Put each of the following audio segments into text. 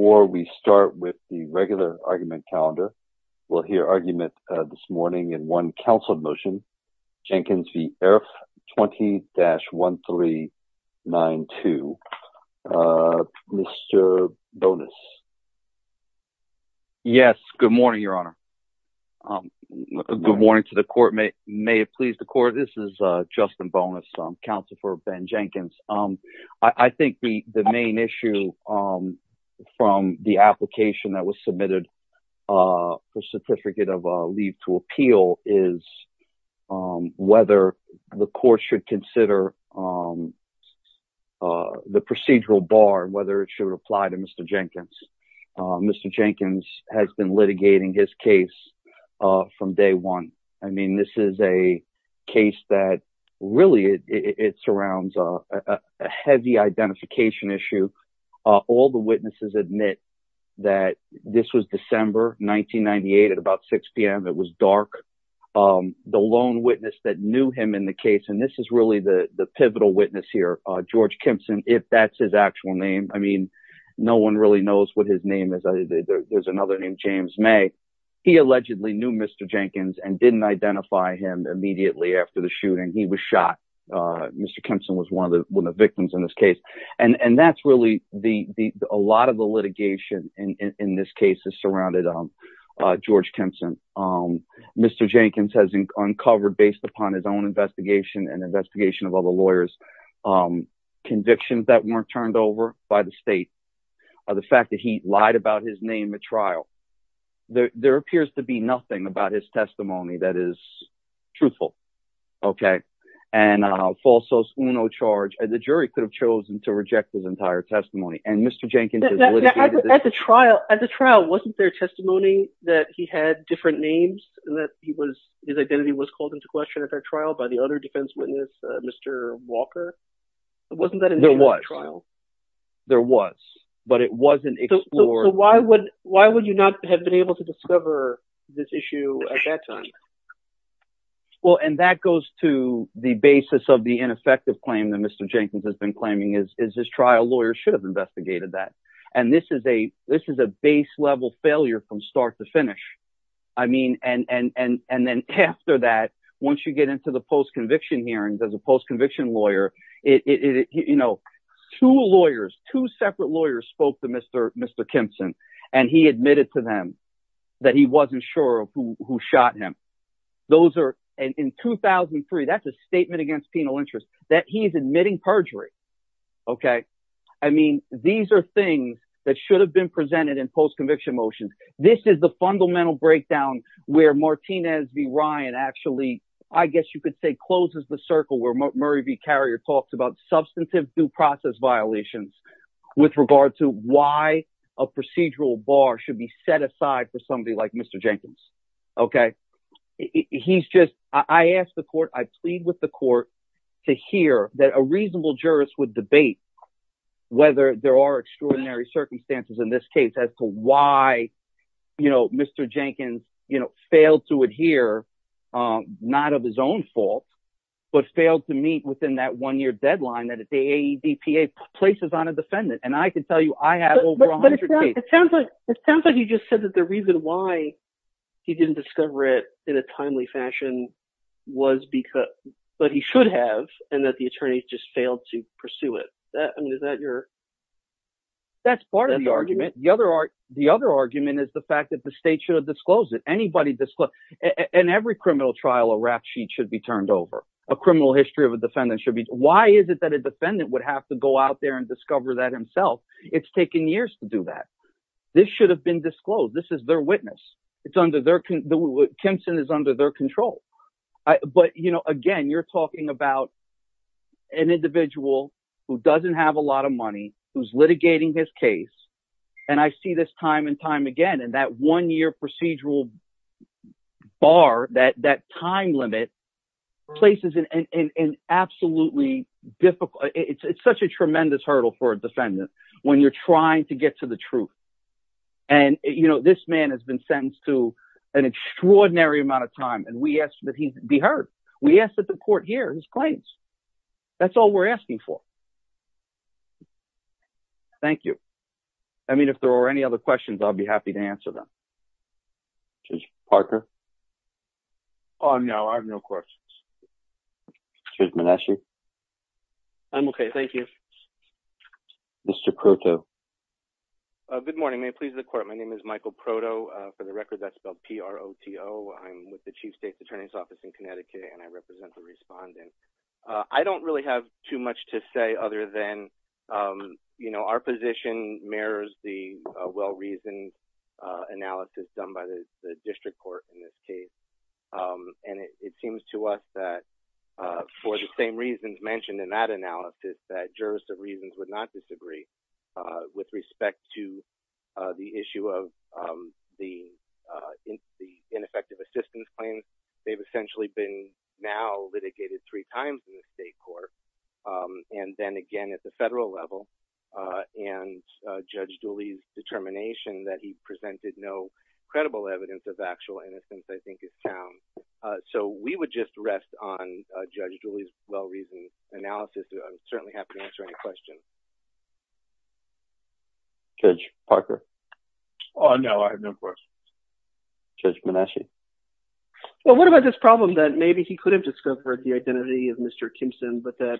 Before we start with the regular argument calendar, we'll hear argument this morning in one council motion. Jenkins v. Erffe 20-1392. Mr. Bonas. Yes. Good morning, your honor. Good morning to the court. May it please the court. This is Justin Bonas, counsel for Ben Jenkins. I think the main issue from the application that was submitted for certificate of leave to appeal is whether the court should consider the procedural bar and whether it should apply to Mr. Jenkins. Mr. Jenkins has been litigating his case from day one. I mean, this is a case that really it surrounds a heavy identification issue. All the witnesses admit that this was December 1998 at about 6 p.m. It was dark. The lone witness that knew him in the case, and this is really the pivotal witness here, George Kimpson, if that's his actual name. I mean, no one really knows what his name is. There's another named James May. He allegedly knew Mr. Jenkins and didn't identify him immediately after the shooting. He was shot. Mr. Kimpson was one of the victims in this case. And that's really a lot of the litigation in this case is surrounded on George Kimpson. Mr. Jenkins has uncovered, based upon his own investigation and investigation of other lawyers, convictions that weren't turned over by the state, the fact that he lied about his name at trial. There appears to be nothing about his testimony that is truthful. Okay. And a false Uno charge. The jury could have chosen to reject his entire testimony. And Mr. Jenkins has litigated this. At the trial, wasn't there testimony that he had different names and that his identity was called into question at that trial by the other defense witness, Mr. Walker? Wasn't that in the trial? There was, but it wasn't explored. So why would, why would you not have been able to discover this issue at that time? Well, and that goes to the basis of the ineffective claim that Mr. Jenkins has been claiming is, is this trial lawyer should have investigated that. And this is a, this is a base level failure from start to finish. I mean, and, and, and, and then after that, once you get into the post conviction hearings as a post conviction lawyer, it, it, you know, two lawyers, two separate lawyers spoke to Mr. Mr. Kimpson and he admitted to them that he wasn't sure of who, who shot him. Those are in 2003, that's a statement against penal interest that he's admitting perjury. Okay. I mean, these are things that should have been presented in post conviction motions. This is the fundamental breakdown where Martinez v. Ryan actually, I guess you could say closes the circle where Murray v. Carrier talks about substantive due process violations with regard to why a procedural bar should be set aside for somebody like Mr. Jenkins. Okay. He's just, I asked the court, I plead with the court to hear that a reasonable jurist would debate whether there are extraordinary circumstances in this case as to why, you know, with failed to meet within that one-year deadline that the AEDPA places on a defendant. And I can tell you, I have over a hundred cases. It sounds like, it sounds like you just said that the reason why he didn't discover it in a timely fashion was because, but he should have, and that the attorneys just failed to pursue it. I mean, is that your. That's part of the argument. The other, the other argument is the fact that the state should have disclosed it. Anybody disclosed, in every criminal trial, a rap sheet should be turned over. A criminal history of a defendant should be. Why is it that a defendant would have to go out there and discover that himself? It's taken years to do that. This should have been disclosed. This is their witness. It's under their, Kimson is under their control. But, you know, again, you're talking about an individual who doesn't have a lot of money, who's litigating his case. And I see this time and time again, and that one-year procedural bar, that, that time limit places in an absolutely difficult, it's such a tremendous hurdle for a defendant when you're trying to get to the truth. And, you know, this man has been sentenced to an extraordinary amount of time. And we asked that he be heard. We asked that the court hear his claims. That's all we're asking for. Thank you. I mean, if there are any other questions, I'll be happy to answer them. Mr. Parker. Oh, no, I have no questions. I'm okay. Thank you. Mr. Proto. Good morning. May it please the court. My name is Michael Proto. For the record, that's spelled P-R-O-T-O. I'm with the chief state's attorney's office in Connecticut and I represent the respondent. I don't really have too much to say other than, you know, our position mirrors the well-reasoned analysis done by the district court in this case. And it seems to us that for the same reasons mentioned in that analysis, that jurists of reasons would not disagree with respect to the issue of the ineffective assistance claims. They've essentially been now litigated three times in the state court. And then again, at the federal level and Judge Dooley's determination that he presented no credible evidence of actual innocence, I think is town. So we would just rest on Judge Dooley's well-reasoned analysis. I'm certainly happy to answer any questions. Judge Parker. Oh, no, I have no questions. Judge Manasci. Well, what about this problem that maybe he could have discovered the identity of Mr. Kimpson, but that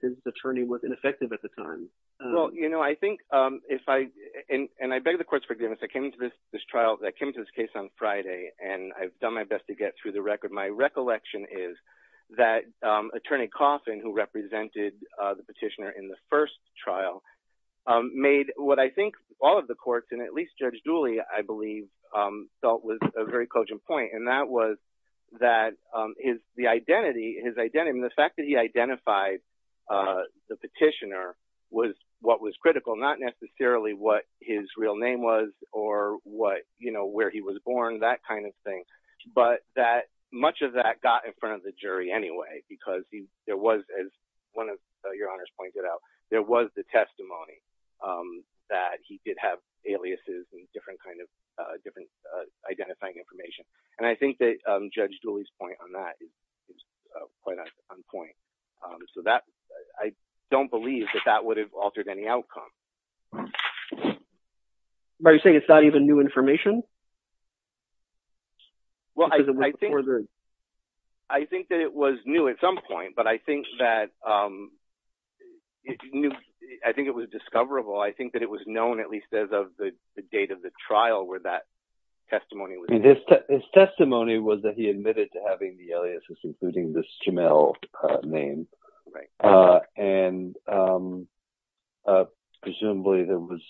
his attorney was ineffective at the time? Well, you know, I think if I, and I beg the court's forgiveness, I came to this trial, that came to this case on Friday, and I've done my best to get through the record. My recollection is that attorney Coffin, who represented the petitioner in the first trial, made what I think all of the courts and at least Judge Dooley, I believe, felt was a very cogent point. And that was that the fact that he identified the petitioner was what was critical, not necessarily what his real name was or what, you know, where he was born, that kind of thing. But that much of that got in front of the jury anyway, because there was, as one of your honors pointed out, there was the testimony that he did have aliases and different kind of identifying information. And I think that Judge Dooley's point on that is quite on point. So that, I don't believe that that would have altered any outcome. Are you saying it's not even new information? Well, I think that it was new at some point, but I think that it knew, I think it was discoverable. I think that it was known at least as of the date of the trial where that testimony was made. His testimony was that he admitted to having the aliases, including this Jamelle name. And presumably there was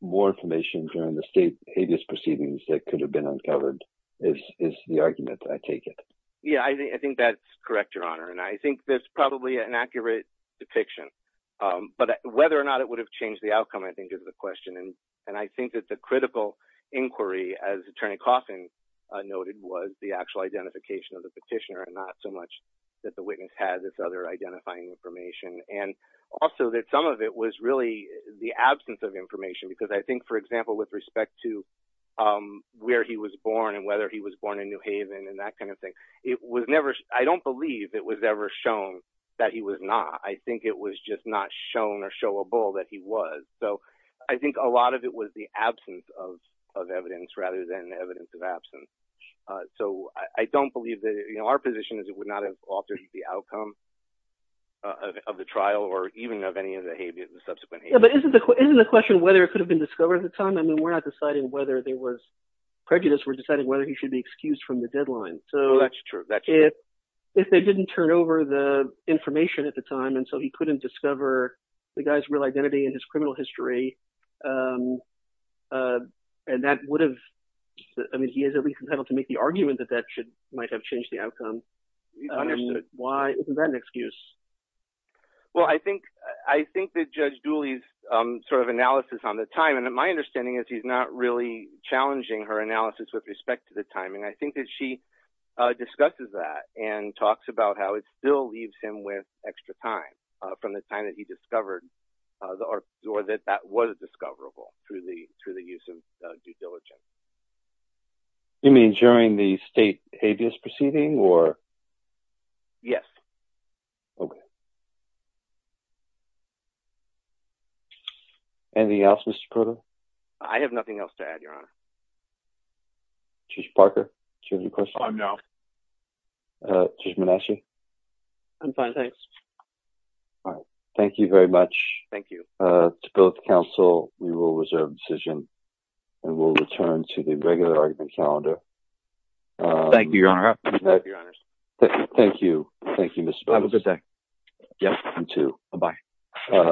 more information during the state habeas proceedings that could have been uncovered is the argument, I take it. Yeah, I think that's correct, Your Honor. And I think there's probably an accurate depiction. But whether or not it would have changed the outcome, I think is the question. And I think that the critical inquiry, as Attorney Coffin noted, was the actual identification of the petitioner and not so much that the witness had this other identifying information. And also that some of it was really the absence of information, because I think, for example, with respect to where he was born and whether he was born in New Haven and that kind of thing, I don't believe it was ever shown that he was not. I think it was just not shown or showable that he was. So I think a lot of it was the absence of evidence rather than the evidence of absence. So I don't believe that our position is it would not have altered the outcome of the trial or even of any of the habeas, the subsequent habeas. But isn't the question whether it could have been discovered at the time? I mean, we're not deciding whether there was prejudice. We're deciding whether he should be excused from the deadline. So that's true. If they didn't turn over the information at the time and so he couldn't discover the guy's real identity and his criminal history, and that would have. I mean, he is at least competent to make the argument that that should might have changed the outcome. Why isn't that an excuse? Well, I think I think that Judge Dooley's sort of analysis on the time and my understanding is he's not really challenging her analysis with respect to the time. And I think that she discusses that and talks about how it still leaves him with extra time from the time that he discovered the or that that was discoverable through the through the use of due diligence. You mean during the state habeas proceeding or. Yes. And the office. I have nothing else to add, Your Honor. Judge Parker, do you have any questions? I'm now. Judge Manasci? I'm fine, thanks. All right. Thank you very much. Thank you. To both counsel, we will reserve decision and we'll return to the regular argument calendar. Thank you, Your Honor. Thank you. Thank you, Mr. Bones. Have a good day. Yep. You too. Bye-bye.